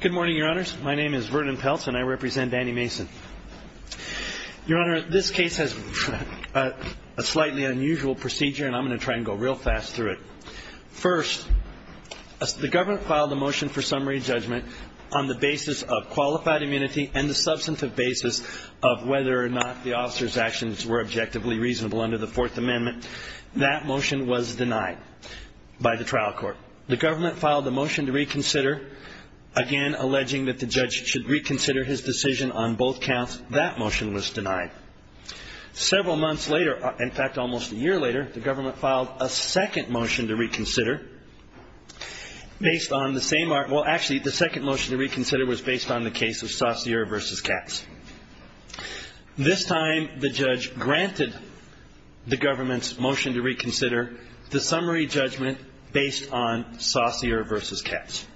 Good morning, Your Honors. My name is Vernon Peltz, and I represent Danny Mason. Your Honor, this case has a slightly unusual procedure, and I'm going to try and go real fast through it. First, the government filed a motion for summary judgment on the basis of qualified immunity and the substantive basis of whether or not the officer's actions were objectively reasonable under the Fourth Amendment. That motion was denied by the trial court. The government filed a motion to reconsider, again alleging that the judge should reconsider his decision on both counts. That motion was denied. Several months later, in fact, almost a year later, the government filed a second motion to reconsider based on the same argument. Well, actually, the second motion to reconsider was based on the case of Saussure v. Katz. This time, the judge granted the government's motion to reconsider the summary judgment based on Saussure v. Katz.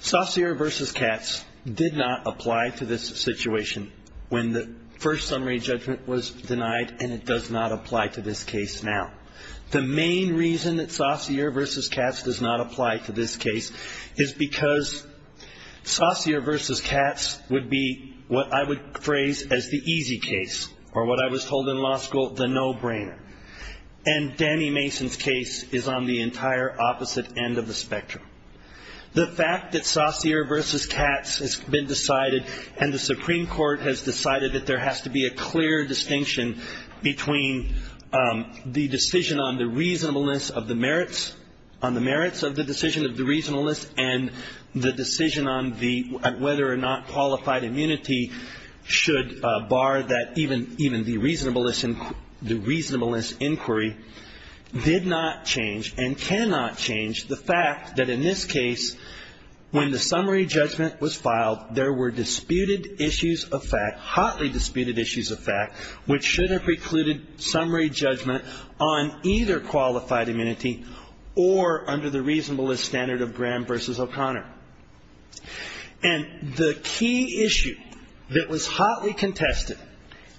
Saussure v. Katz did not apply to this situation when the first summary judgment was denied, and it does not apply to this case now. The main reason that Saussure v. Katz does not apply to this case is because Saussure v. Katz would be what I would phrase as the easy case, or what I was told in law school, the no-brainer. And Danny Mason's case is on the entire opposite end of the spectrum. The fact that Saussure v. Katz has been decided and the Supreme Court has decided that there has to be a clear distinction between the decision on the reasonableness of the merits, on the merits of the decision of the reasonableness, and the decision on whether or not qualified immunity should bar that even the reasonableness inquiry did not change and cannot change the fact that in this case, when the summary judgment was filed, there were disputed issues of fact, hotly disputed issues of fact, which should have precluded summary judgment on either qualified immunity or under the reasonableness standard of Graham v. O'Connor. And the key issue that was hotly contested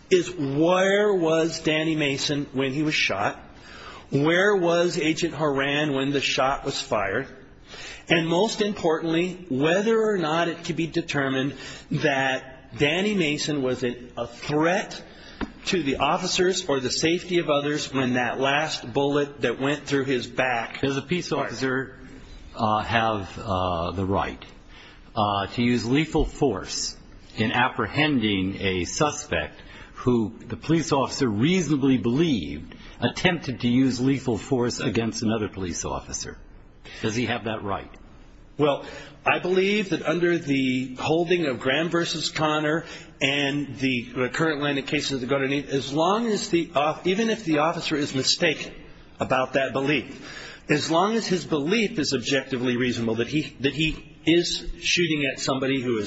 is where was Danny Mason when he was shot? Where was Agent Horan when the shot was fired? And most importantly, whether or not it could be determined that Danny Mason was a threat to the officers or the safety of others when that last bullet that went through his back. Does a police officer have the right to use lethal force in apprehending a suspect who the police officer reasonably believed attempted to use lethal force against another police officer? Does he have that right? Well, I believe that under the holding of Graham v. O'Connor and the current line of cases that go underneath, even if the officer is mistaken about that belief, as long as his belief is objectively reasonable that he is shooting at somebody who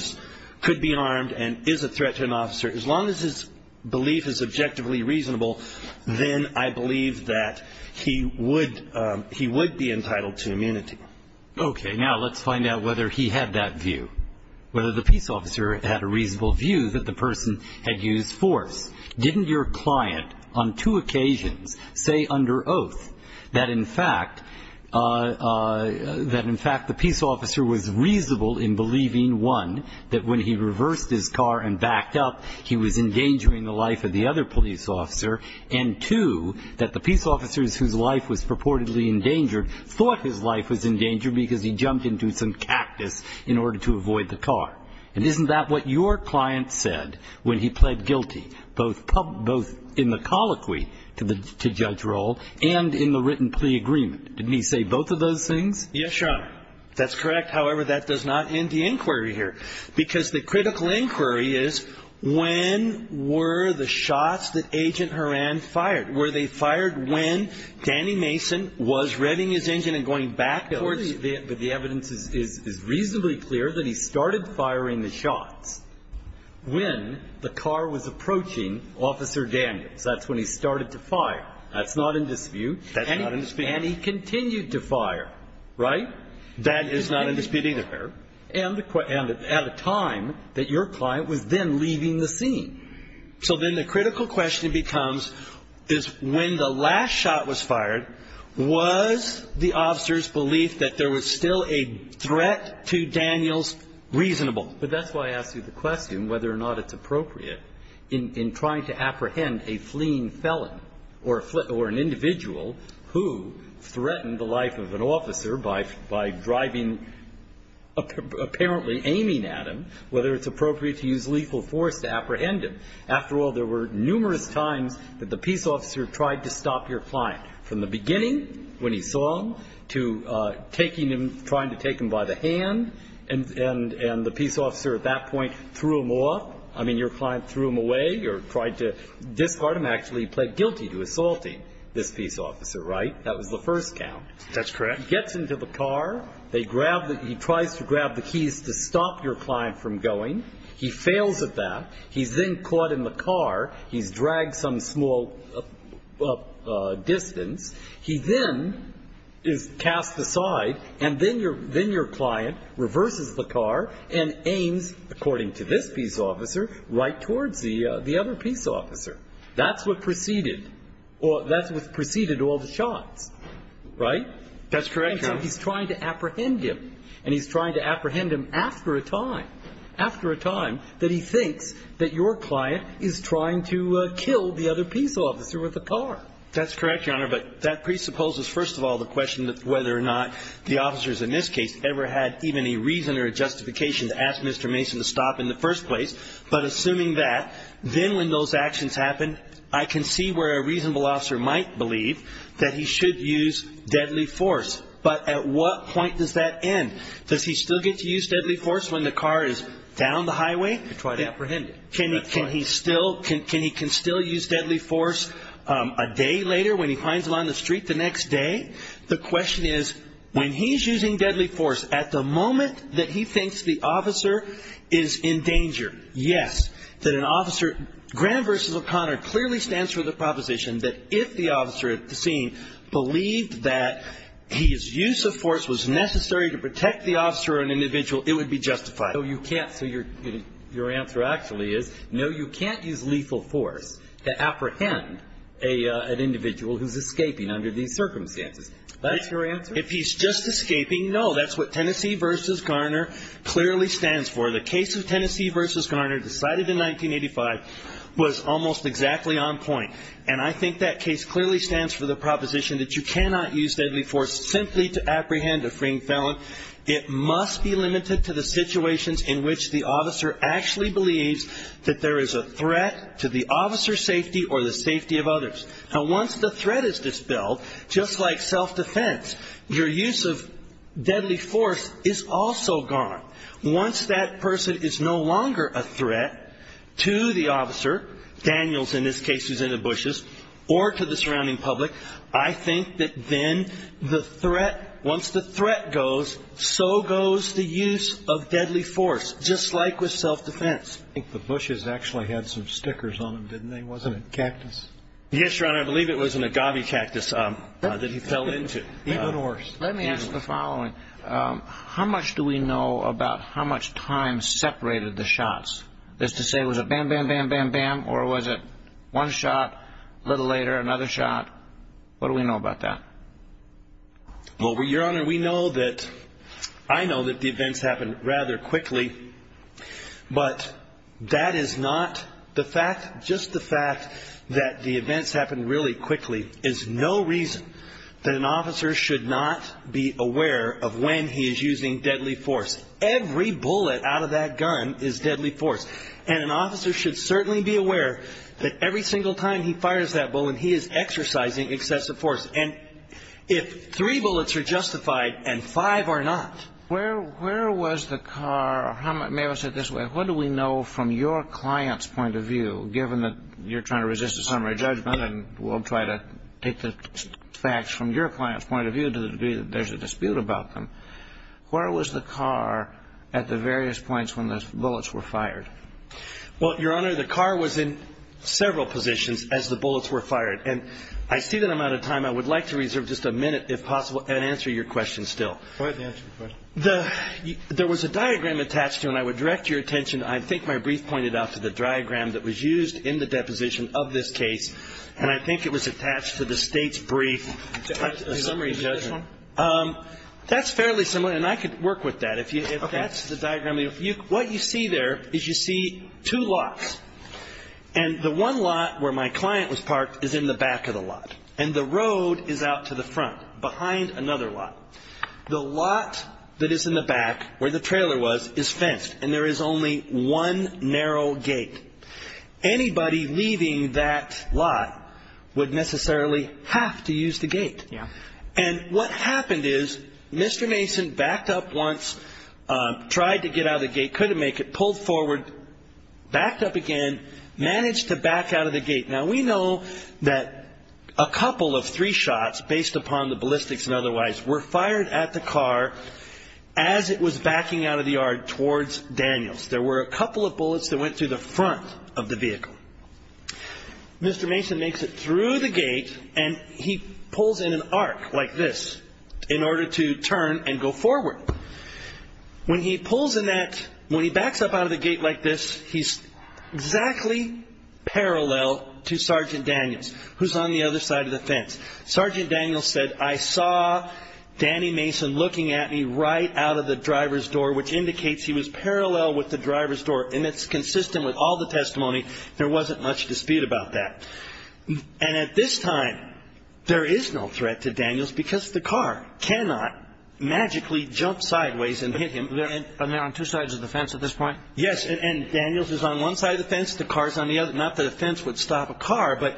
could be armed and is a threat to an officer, as long as his belief is objectively reasonable, then I believe that he would be entitled to immunity. Okay. Now let's find out whether he had that view, whether the peace officer had a reasonable view that the person had used force. Didn't your client on two occasions say under oath that in fact the peace officer was reasonable in believing, one, that when he reversed his car and backed up, he was endangering the life of the other police officer, and two, that the peace officer whose life was purportedly endangered thought his life was endangered because he jumped into some cactus in order to avoid the car. And isn't that what your client said when he pled guilty, both in the colloquy to Judge Roll and in the written plea agreement? Didn't he say both of those things? Yes, Your Honor. That's correct. However, that does not end the inquiry here. Because the critical inquiry is when were the shots that Agent Horan fired? Were they fired when Danny Mason was revving his engine and going backwards? The evidence is reasonably clear that he started firing the shots when the car was approaching Officer Daniels. That's when he started to fire. That's not in dispute. That's not in dispute. And he continued to fire, right? That is not in dispute either. And at a time that your client was then leaving the scene. So then the critical question becomes is when the last shot was fired, was the officer's belief that there was still a threat to Daniels reasonable? But that's why I asked you the question whether or not it's appropriate in trying to apprehend a fleeing felon or an individual who threatened the life of an officer by driving, apparently aiming at him, whether it's appropriate to use lethal force to apprehend him. After all, there were numerous times that the peace officer tried to stop your client, from the beginning when he saw him to taking him, trying to take him by the hand, and the peace officer at that point threw him off. I mean, your client threw him away or tried to discard him. Actually, he pled guilty to assaulting this peace officer, right? That was the first count. That's correct. He gets into the car. He tries to grab the keys to stop your client from going. He fails at that. He's then caught in the car. He's dragged some small distance. He then is cast aside, and then your client reverses the car and aims, according to this peace officer, right towards the other peace officer. That's what preceded all the shots, right? That's correct, Your Honor. He's trying to apprehend him, and he's trying to apprehend him after a time, after a time that he thinks that your client is trying to kill the other peace officer with a car. That's correct, Your Honor, but that presupposes, first of all, the question whether or not the officers in this case ever had even a reason or a justification to ask Mr. Mason to stop in the first place. But assuming that, then when those actions happen, I can see where a reasonable officer might believe that he should use deadly force. But at what point does that end? Does he still get to use deadly force when the car is down the highway? They try to apprehend him. Can he still use deadly force a day later when he finds him on the street the next day? The question is, when he's using deadly force, at the moment that he thinks the officer is in danger, yes, that an officer, Graham v. O'Connor clearly stands for the proposition that if the officer at the scene believed that his use of force was necessary to protect the officer or an individual, it would be justified. So you can't, so your answer actually is, no, you can't use lethal force to apprehend an individual who's escaping under these circumstances. That's your answer? If he's just escaping, no. That's what Tennessee v. Garner clearly stands for. The case of Tennessee v. Garner decided in 1985 was almost exactly on point. And I think that case clearly stands for the proposition that you cannot use deadly force simply to apprehend a freeing felon. It must be limited to the situations in which the officer actually believes that there is a threat to the officer's safety or the safety of others. Now, once the threat is dispelled, just like self-defense, your use of deadly force is also gone. Once that person is no longer a threat to the officer, Daniels in this case who's in the bushes, or to the surrounding public, I think that then the threat, once the threat goes, so goes the use of deadly force, just like with self-defense. The bushes actually had some stickers on them, didn't they? Wasn't it cactus? Yes, Your Honor. I believe it was an agave cactus that he fell into. Even worse. Let me ask the following. How much do we know about how much time separated the shots? That is to say, was it bam, bam, bam, bam, bam? Or was it one shot, a little later, another shot? What do we know about that? Well, Your Honor, we know that, I know that the events happened rather quickly. But that is not the fact, just the fact that the events happened really quickly is no reason that an officer should not be aware of when he is using deadly force. Every bullet out of that gun is deadly force. And an officer should certainly be aware that every single time he fires that bullet, he is exercising excessive force. And if three bullets are justified and five are not. Where was the car, may I say it this way, what do we know from your client's point of view, given that you're trying to resist a summary judgment and we'll try to take the facts from your client's point of view to the degree that there's a dispute about them, where was the car at the various points when the bullets were fired? Well, Your Honor, the car was in several positions as the bullets were fired. And I see that I'm out of time. I would like to reserve just a minute, if possible, and answer your question still. Go ahead and answer your question. There was a diagram attached to it, and I would direct your attention. I think my brief pointed out to the diagram that was used in the deposition of this case, and I think it was attached to the State's brief. A summary judgment? That's fairly similar, and I could work with that. Okay. If that's the diagram. What you see there is you see two lots. And the one lot where my client was parked is in the back of the lot. And the road is out to the front, behind another lot. The lot that is in the back, where the trailer was, is fenced, and there is only one narrow gate. Anybody leaving that lot would necessarily have to use the gate. And what happened is Mr. Mason backed up once, tried to get out of the gate, couldn't make it, pulled forward, backed up again, managed to back out of the gate. Now, we know that a couple of three shots, based upon the ballistics and otherwise, were fired at the car as it was backing out of the yard towards Daniels. There were a couple of bullets that went through the front of the vehicle. Mr. Mason makes it through the gate, and he pulls in an arc like this in order to turn and go forward. When he pulls in that, when he backs up out of the gate like this, he's exactly parallel to Sergeant Daniels, who's on the other side of the fence. Sergeant Daniels said, I saw Danny Mason looking at me right out of the driver's door, which indicates he was parallel with the driver's door. And it's consistent with all the testimony. There wasn't much dispute about that. And at this time, there is no threat to Daniels because the car cannot magically jump sideways and hit him. And they're on two sides of the fence at this point? Yes, and Daniels is on one side of the fence, the car's on the other. Not that a fence would stop a car, but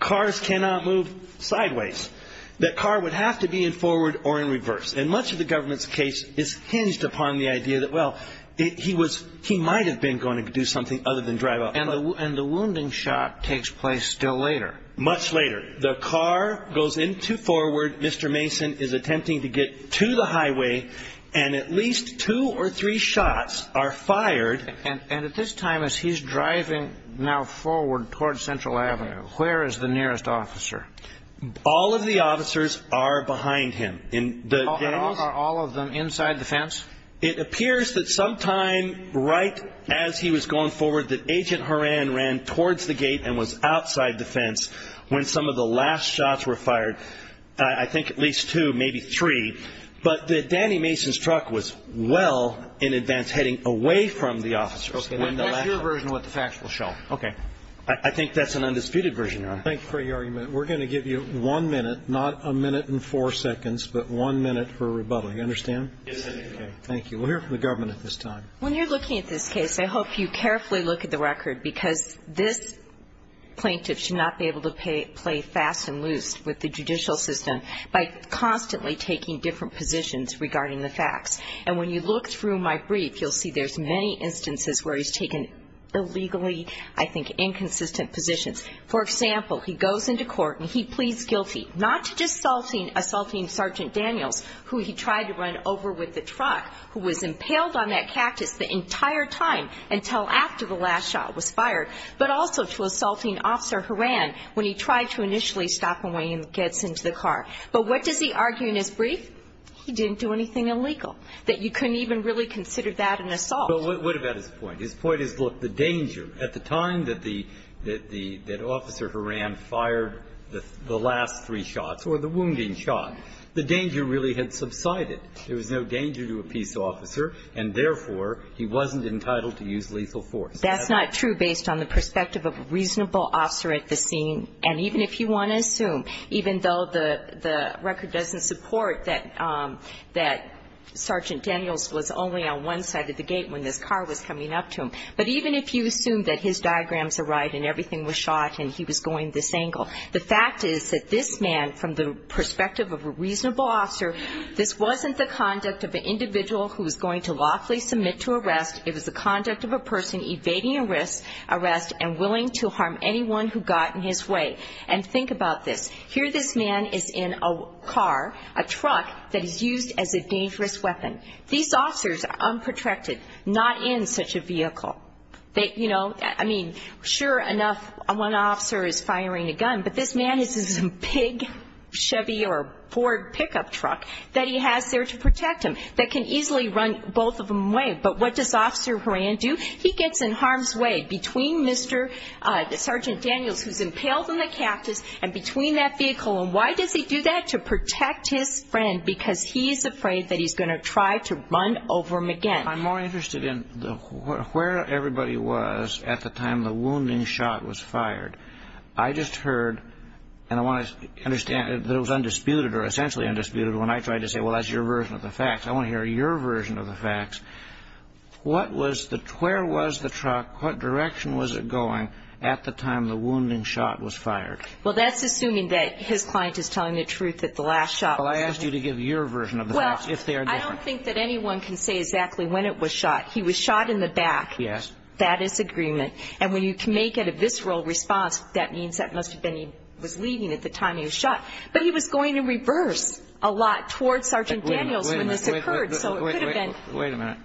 cars cannot move sideways. The car would have to be in forward or in reverse. And much of the government's case is hinged upon the idea that, well, he might have been going to do something other than drive off. And the wounding shot takes place still later. Much later. The car goes into forward. Mr. Mason is attempting to get to the highway. And at least two or three shots are fired. And at this time, as he's driving now forward towards Central Avenue, where is the nearest officer? All of the officers are behind him. Are all of them inside the fence? It appears that sometime right as he was going forward that Agent Horan ran towards the gate and was outside the fence when some of the last shots were fired. I think at least two, maybe three. But that Danny Mason's truck was well in advance heading away from the officers. Okay. That's your version of what the facts will show. I think that's an undisputed version, Your Honor. Thank you for your argument. We're going to give you one minute, not a minute and four seconds, but one minute for rebuttal. You understand? Yes, sir. Thank you. We'll hear from the government at this time. When you're looking at this case, I hope you carefully look at the record because this plaintiff should not be able to play fast and loose with the judicial system by constantly taking different positions regarding the facts. And when you look through my brief, you'll see there's many instances where he's taken illegally, I think, inconsistent positions. For example, he goes into court and he pleads guilty, not to just assaulting Sergeant Daniels, who he tried to run over with the truck, who was impaled on that cactus the entire time until after the last shot was fired, but also to assaulting Officer Horan when he tried to initially stop him when he gets into the car. But what does he argue in his brief? He didn't do anything illegal, that you couldn't even really consider that an assault. But what about his point? His point is, look, the danger. At the time that the – that Officer Horan fired the last three shots or the wounding shot, the danger really had subsided. There was no danger to a peace officer, and therefore, he wasn't entitled to use lethal force. That's not true based on the perspective of a reasonable officer at the scene. And even if you want to assume, even though the record doesn't support that Sergeant Daniels was only on one side of the gate when this car was coming up to him, but even if you assume that his diagrams are right and everything was shot and he was going this angle, the fact is that this man, from the perspective of a reasonable officer, this wasn't the conduct of an individual who was going to lawfully submit to arrest. It was the conduct of a person evading arrest and willing to harm anyone who got in his way. And think about this. Here this man is in a car, a truck, that is used as a dangerous weapon. These officers are unprotected, not in such a vehicle. You know, I mean, sure enough, one officer is firing a gun, but this man has this big Chevy or Ford pickup truck that he has there to protect him that can easily run both of them away. But what does Officer Horan do? He gets in harm's way between Sergeant Daniels, who's impaled in the cactus, and between that vehicle. And why does he do that? To protect his friend because he's afraid that he's going to try to run over him again. I'm more interested in where everybody was at the time the wounding shot was fired. I just heard, and I want to understand that it was undisputed or essentially undisputed when I tried to say, well, that's your version of the facts. I want to hear your version of the facts. What was the – where was the truck, what direction was it going at the time the wounding shot was fired? Well, that's assuming that his client is telling the truth at the last shot. Well, I asked you to give your version of the facts, if they are different. Well, I don't think that anyone can say exactly when it was shot. He was shot in the back. Yes. That is agreement. And when you can make it a visceral response, that means that must have been he was leaving at the time he was shot. But he was going in reverse a lot towards Sergeant Daniels when this occurred, so it could have been. Wait a minute.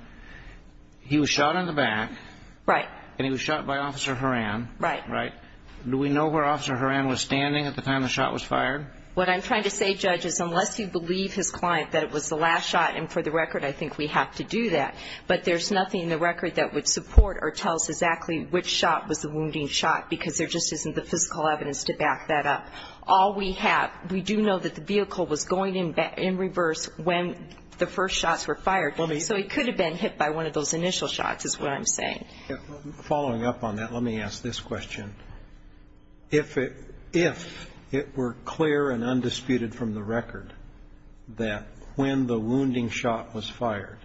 He was shot in the back. Right. And he was shot by Officer Horan. Right. Right. Do we know where Officer Horan was standing at the time the shot was fired? What I'm trying to say, Judge, is unless you believe his client that it was the last shot, and for the record I think we have to do that, but there's nothing in the record that would support or tell us exactly which shot was the wounding shot because there just isn't the physical evidence to back that up. All we have, we do know that the vehicle was going in reverse when the first shots were fired, so he could have been hit by one of those initial shots is what I'm saying. Following up on that, let me ask this question. If it were clear and undisputed from the record that when the wounding shot was fired,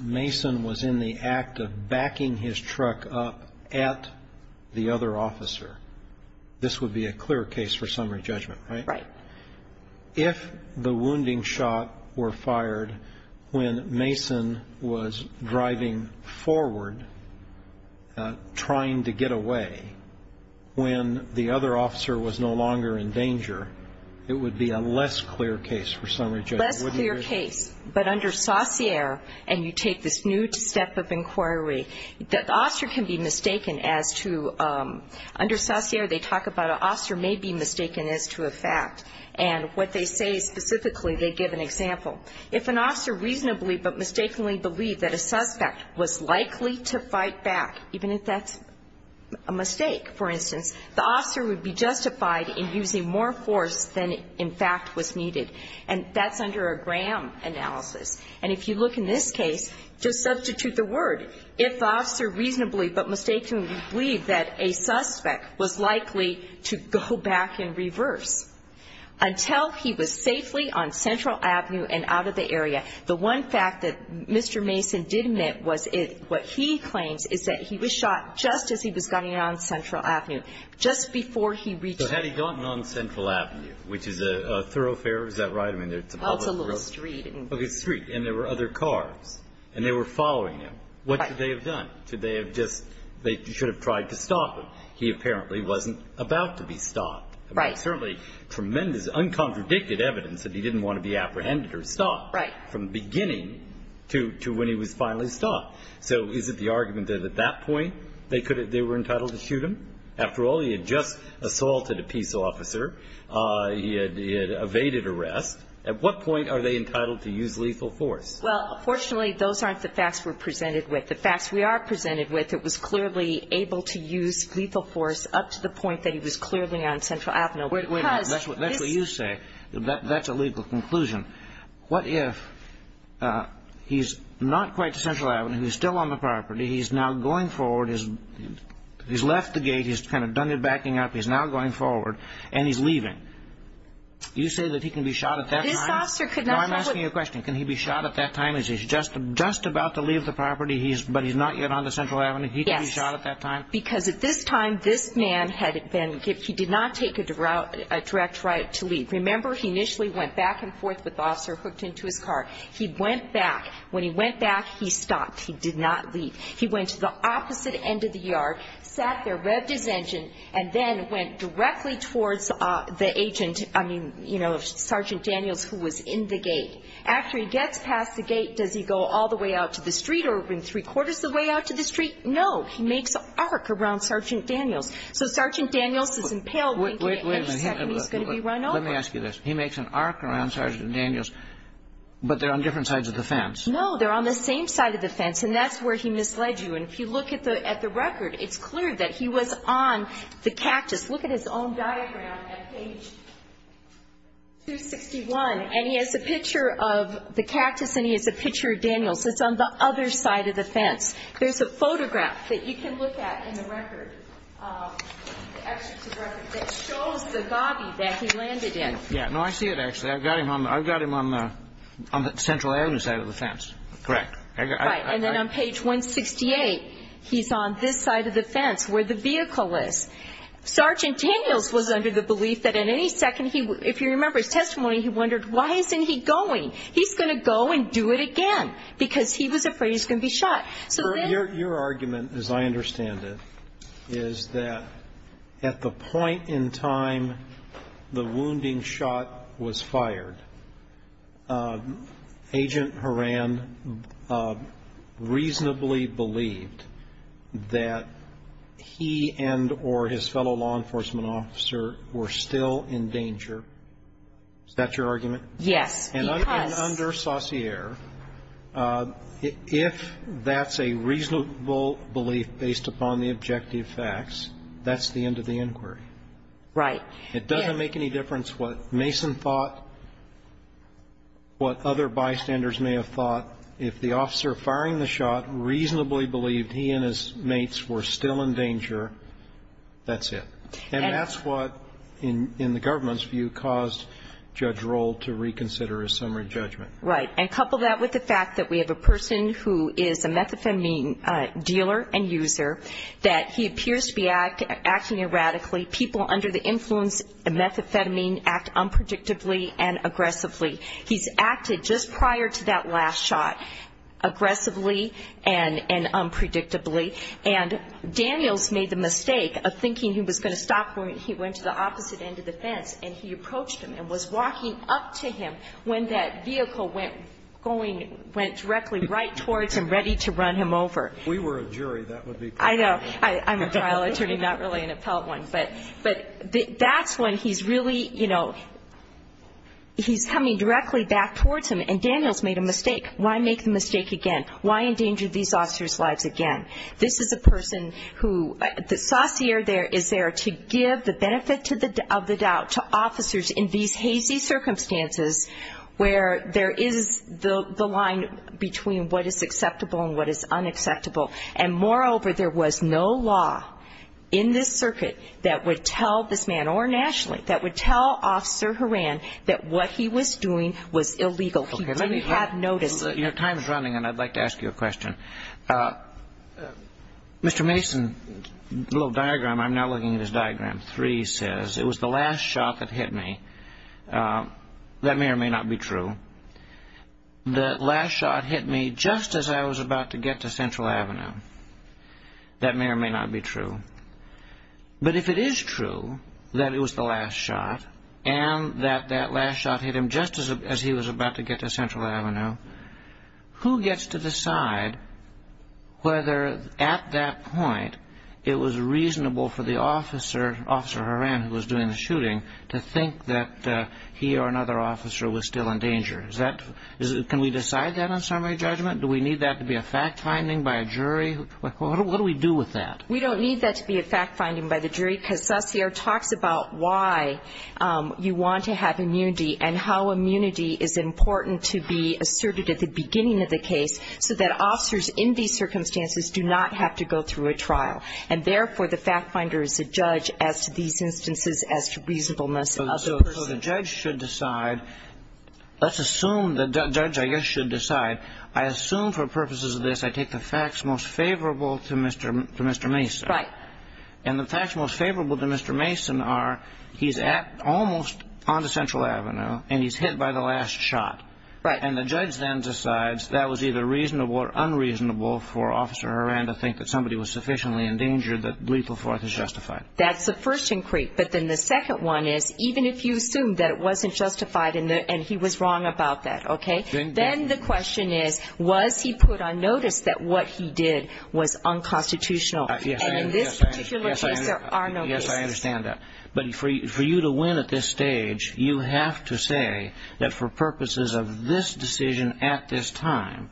Mason was in the act of backing his truck up at the other officer, this would be a clear case for summary judgment, right? Right. If the wounding shot were fired when Mason was driving forward, trying to get away, when the other officer was no longer in danger, it would be a less clear case for summary judgment. Less clear case, but under saucier and you take this new step of inquiry, the officer can be mistaken as to under saucier they talk about an officer may be mistaken as to a fact, and what they say specifically they give an example. If an officer reasonably but mistakenly believed that a suspect was likely to fight back, even if that's a mistake, for instance, the officer would be justified in using more force than in fact was needed, and that's under a Graham analysis. And if you look in this case, just substitute the word. If the officer reasonably but mistakenly believed that a suspect was likely to go back in reverse, until he was safely on Central Avenue and out of the area, the one fact that Mr. Mason did admit was what he claims is that he was shot just as he was getting on Central Avenue, just before he reached the area. So had he gotten on Central Avenue, which is a thoroughfare, is that right? Well, it's a little street. Okay, street, and there were other cars, and they were following him. What should they have done? Should they have just they should have tried to stop him. He apparently wasn't about to be stopped. Right. Certainly tremendous, uncontradicted evidence that he didn't want to be apprehended or stopped. Right. From the beginning to when he was finally stopped. So is it the argument that at that point they were entitled to shoot him? After all, he had just assaulted a peace officer. He had evaded arrest. At what point are they entitled to use lethal force? Well, fortunately, those aren't the facts we're presented with. The facts we are presented with, it was clearly able to use lethal force up to the point that he was clearly on Central Avenue. That's what you say. That's a legal conclusion. What if he's not quite to Central Avenue, he's still on the property, he's now going forward, he's left the gate, he's kind of done the backing up, he's now going forward, and he's leaving? You say that he can be shot at that time? This officer could not have. I'm asking you a question. Can he be shot at that time? Is he just about to leave the property, but he's not yet on the Central Avenue? Yes. He could be shot at that time? Because at this time, this man had been, he did not take a direct right to leave. Remember, he initially went back and forth with the officer hooked into his car. He went back. When he went back, he stopped. He did not leave. He went to the opposite end of the yard, sat there, revved his engine, and then went directly towards the agent, I mean, you know, Sergeant Daniels who was in the gate. After he gets past the gate, does he go all the way out to the street or in three-quarters of the way out to the street? No. He makes an arc around Sergeant Daniels. So Sergeant Daniels is impaled. Wait a minute. He's going to be run over. Let me ask you this. He makes an arc around Sergeant Daniels, but they're on different sides of the fence. No. They're on the same side of the fence, and that's where he misled you. And if you look at the record, it's clear that he was on the cactus. Look at his own diagram at page 261, and he has a picture of the cactus and he has a picture of Daniels. It's on the other side of the fence. There's a photograph that you can look at in the record, the excerpt of the record, that shows the gobby that he landed in. Yeah. No, I see it, actually. I've got him on the central area side of the fence. Correct. Right. And then on page 168, he's on this side of the fence where the vehicle is. Sergeant Daniels was under the belief that at any second, if you remember his testimony, he wondered, why isn't he going? He's going to go and do it again because he was afraid he was going to be shot. Your argument, as I understand it, is that at the point in time the wounding shot was fired, Agent Horan reasonably believed that he and or his fellow law enforcement officer were still in danger. Is that your argument? Yes. And under Saussure, if that's a reasonable belief based upon the objective facts, that's the end of the inquiry. Right. It doesn't make any difference what Mason thought, what other bystanders may have thought. If the officer firing the shot reasonably believed he and his mates were still in danger, that's it. And that's what, in the government's view, caused Judge Roll to reconsider his summary judgment. Right. And couple that with the fact that we have a person who is a methamphetamine dealer and user, that he appears to be acting erratically. People under the influence of methamphetamine act unpredictably and aggressively. He's acted just prior to that last shot aggressively and unpredictably. And Daniels made the mistake of thinking he was going to stop when he went to the opposite end of the fence, and he approached him and was walking up to him when that vehicle went directly right towards him, ready to run him over. If we were a jury, that would be pretty bad. I know. I'm a trial attorney, not really an appellate one. But that's when he's really, you know, he's coming directly back towards him. And Daniels made a mistake. Why make the mistake again? Why endanger these officers' lives again? This is a person who the saucier there is there to give the benefit of the doubt to officers in these hazy circumstances where there is the line between what is acceptable and what is unacceptable. And moreover, there was no law in this circuit that would tell this man, or nationally, that would tell Officer Horan that what he was doing was illegal. He couldn't have noticed. Your time is running, and I'd like to ask you a question. Mr. Mason, the little diagram, I'm now looking at his diagram. Three says, it was the last shot that hit me. That may or may not be true. The last shot hit me just as I was about to get to Central Avenue. That may or may not be true. But if it is true that it was the last shot and that that last shot hit him just as he was about to get to Central Avenue, who gets to decide whether at that point it was reasonable for the officer, Officer Horan, who was doing the shooting, to think that he or another officer was still in danger? Can we decide that on summary judgment? Do we need that to be a fact-finding by a jury? What do we do with that? We don't need that to be a fact-finding by the jury, because Saussure talks about why you want to have immunity and how immunity is important to be asserted at the beginning of the case so that officers in these circumstances do not have to go through a trial. And therefore, the fact-finder is the judge as to these instances as to reasonableness of the person. So the judge should decide. Let's assume the judge, I guess, should decide. I assume for purposes of this I take the facts most favorable to Mr. Mason. Right. And the facts most favorable to Mr. Mason are he's almost on to Central Avenue and he's hit by the last shot. Right. And the judge then decides that was either reasonable or unreasonable for Officer Horan to think that somebody was sufficiently in danger that lethal force is justified. That's the first inquiry. But then the second one is even if you assume that it wasn't justified and he was wrong about that, okay, then the question is, was he put on notice that what he did was unconstitutional? And in this particular case, there are no cases. Yes, I understand that. But for you to win at this stage, you have to say that for purposes of this decision at this time,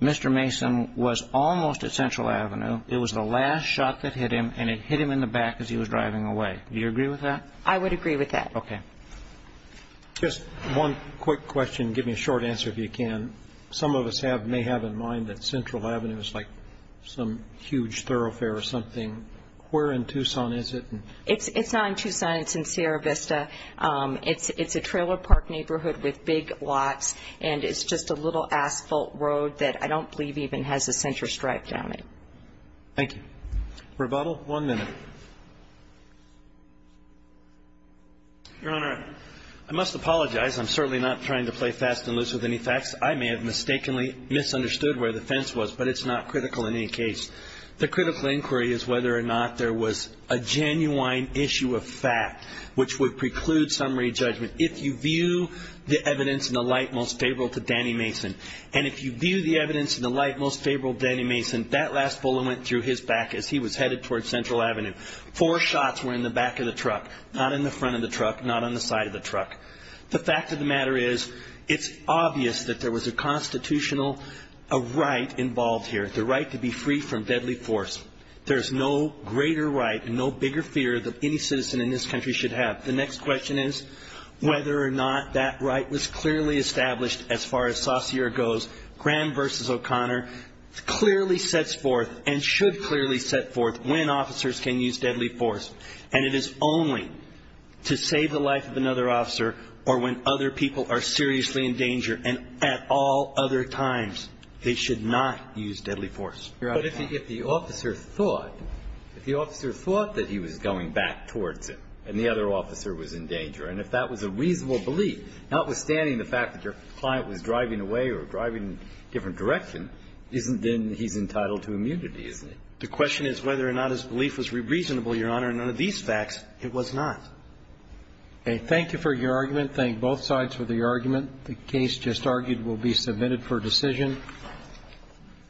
Mr. Mason was almost at Central Avenue. It was the last shot that hit him, and it hit him in the back as he was driving away. Do you agree with that? I would agree with that. Okay. Just one quick question. Give me a short answer if you can. Some of us may have in mind that Central Avenue is like some huge thoroughfare or something. Where in Tucson is it? It's not in Tucson. It's in Sierra Vista. It's a trailer park neighborhood with big lots, and it's just a little asphalt road that I don't believe even has a center stripe down it. Thank you. Rebuttal? One minute. Your Honor, I must apologize. I'm certainly not trying to play fast and loose with any facts. I may have mistakenly misunderstood where the fence was, but it's not critical in any case. The critical inquiry is whether or not there was a genuine issue of fact which would preclude summary judgment if you view the evidence in the light most favorable to Danny Mason. And if you view the evidence in the light most favorable to Danny Mason, that last bullet went through his back as he was headed towards Central Avenue. Four shots were in the back of the truck, not in the front of the truck, not on the side of the truck. The fact of the matter is it's obvious that there was a constitutional right involved here, the right to be free from deadly force. There's no greater right and no bigger fear that any citizen in this country should have. The next question is whether or not that right was clearly established as far as Saucere goes. Grand v. O'Connor clearly sets forth and should clearly set forth when officers can use deadly force. And it is only to save the life of another officer or when other people are seriously in danger and at all other times they should not use deadly force. But if the officer thought that he was going back towards him and the other officer was in danger, and if that was a reasonable belief, notwithstanding the fact that your client was driving away or driving in a different direction, isn't then he's entitled to immunity, isn't he? The question is whether or not his belief was reasonable, Your Honor. And under these facts, it was not. Okay. Thank you for your argument. Thank both sides for the argument. The case just argued will be submitted for decision.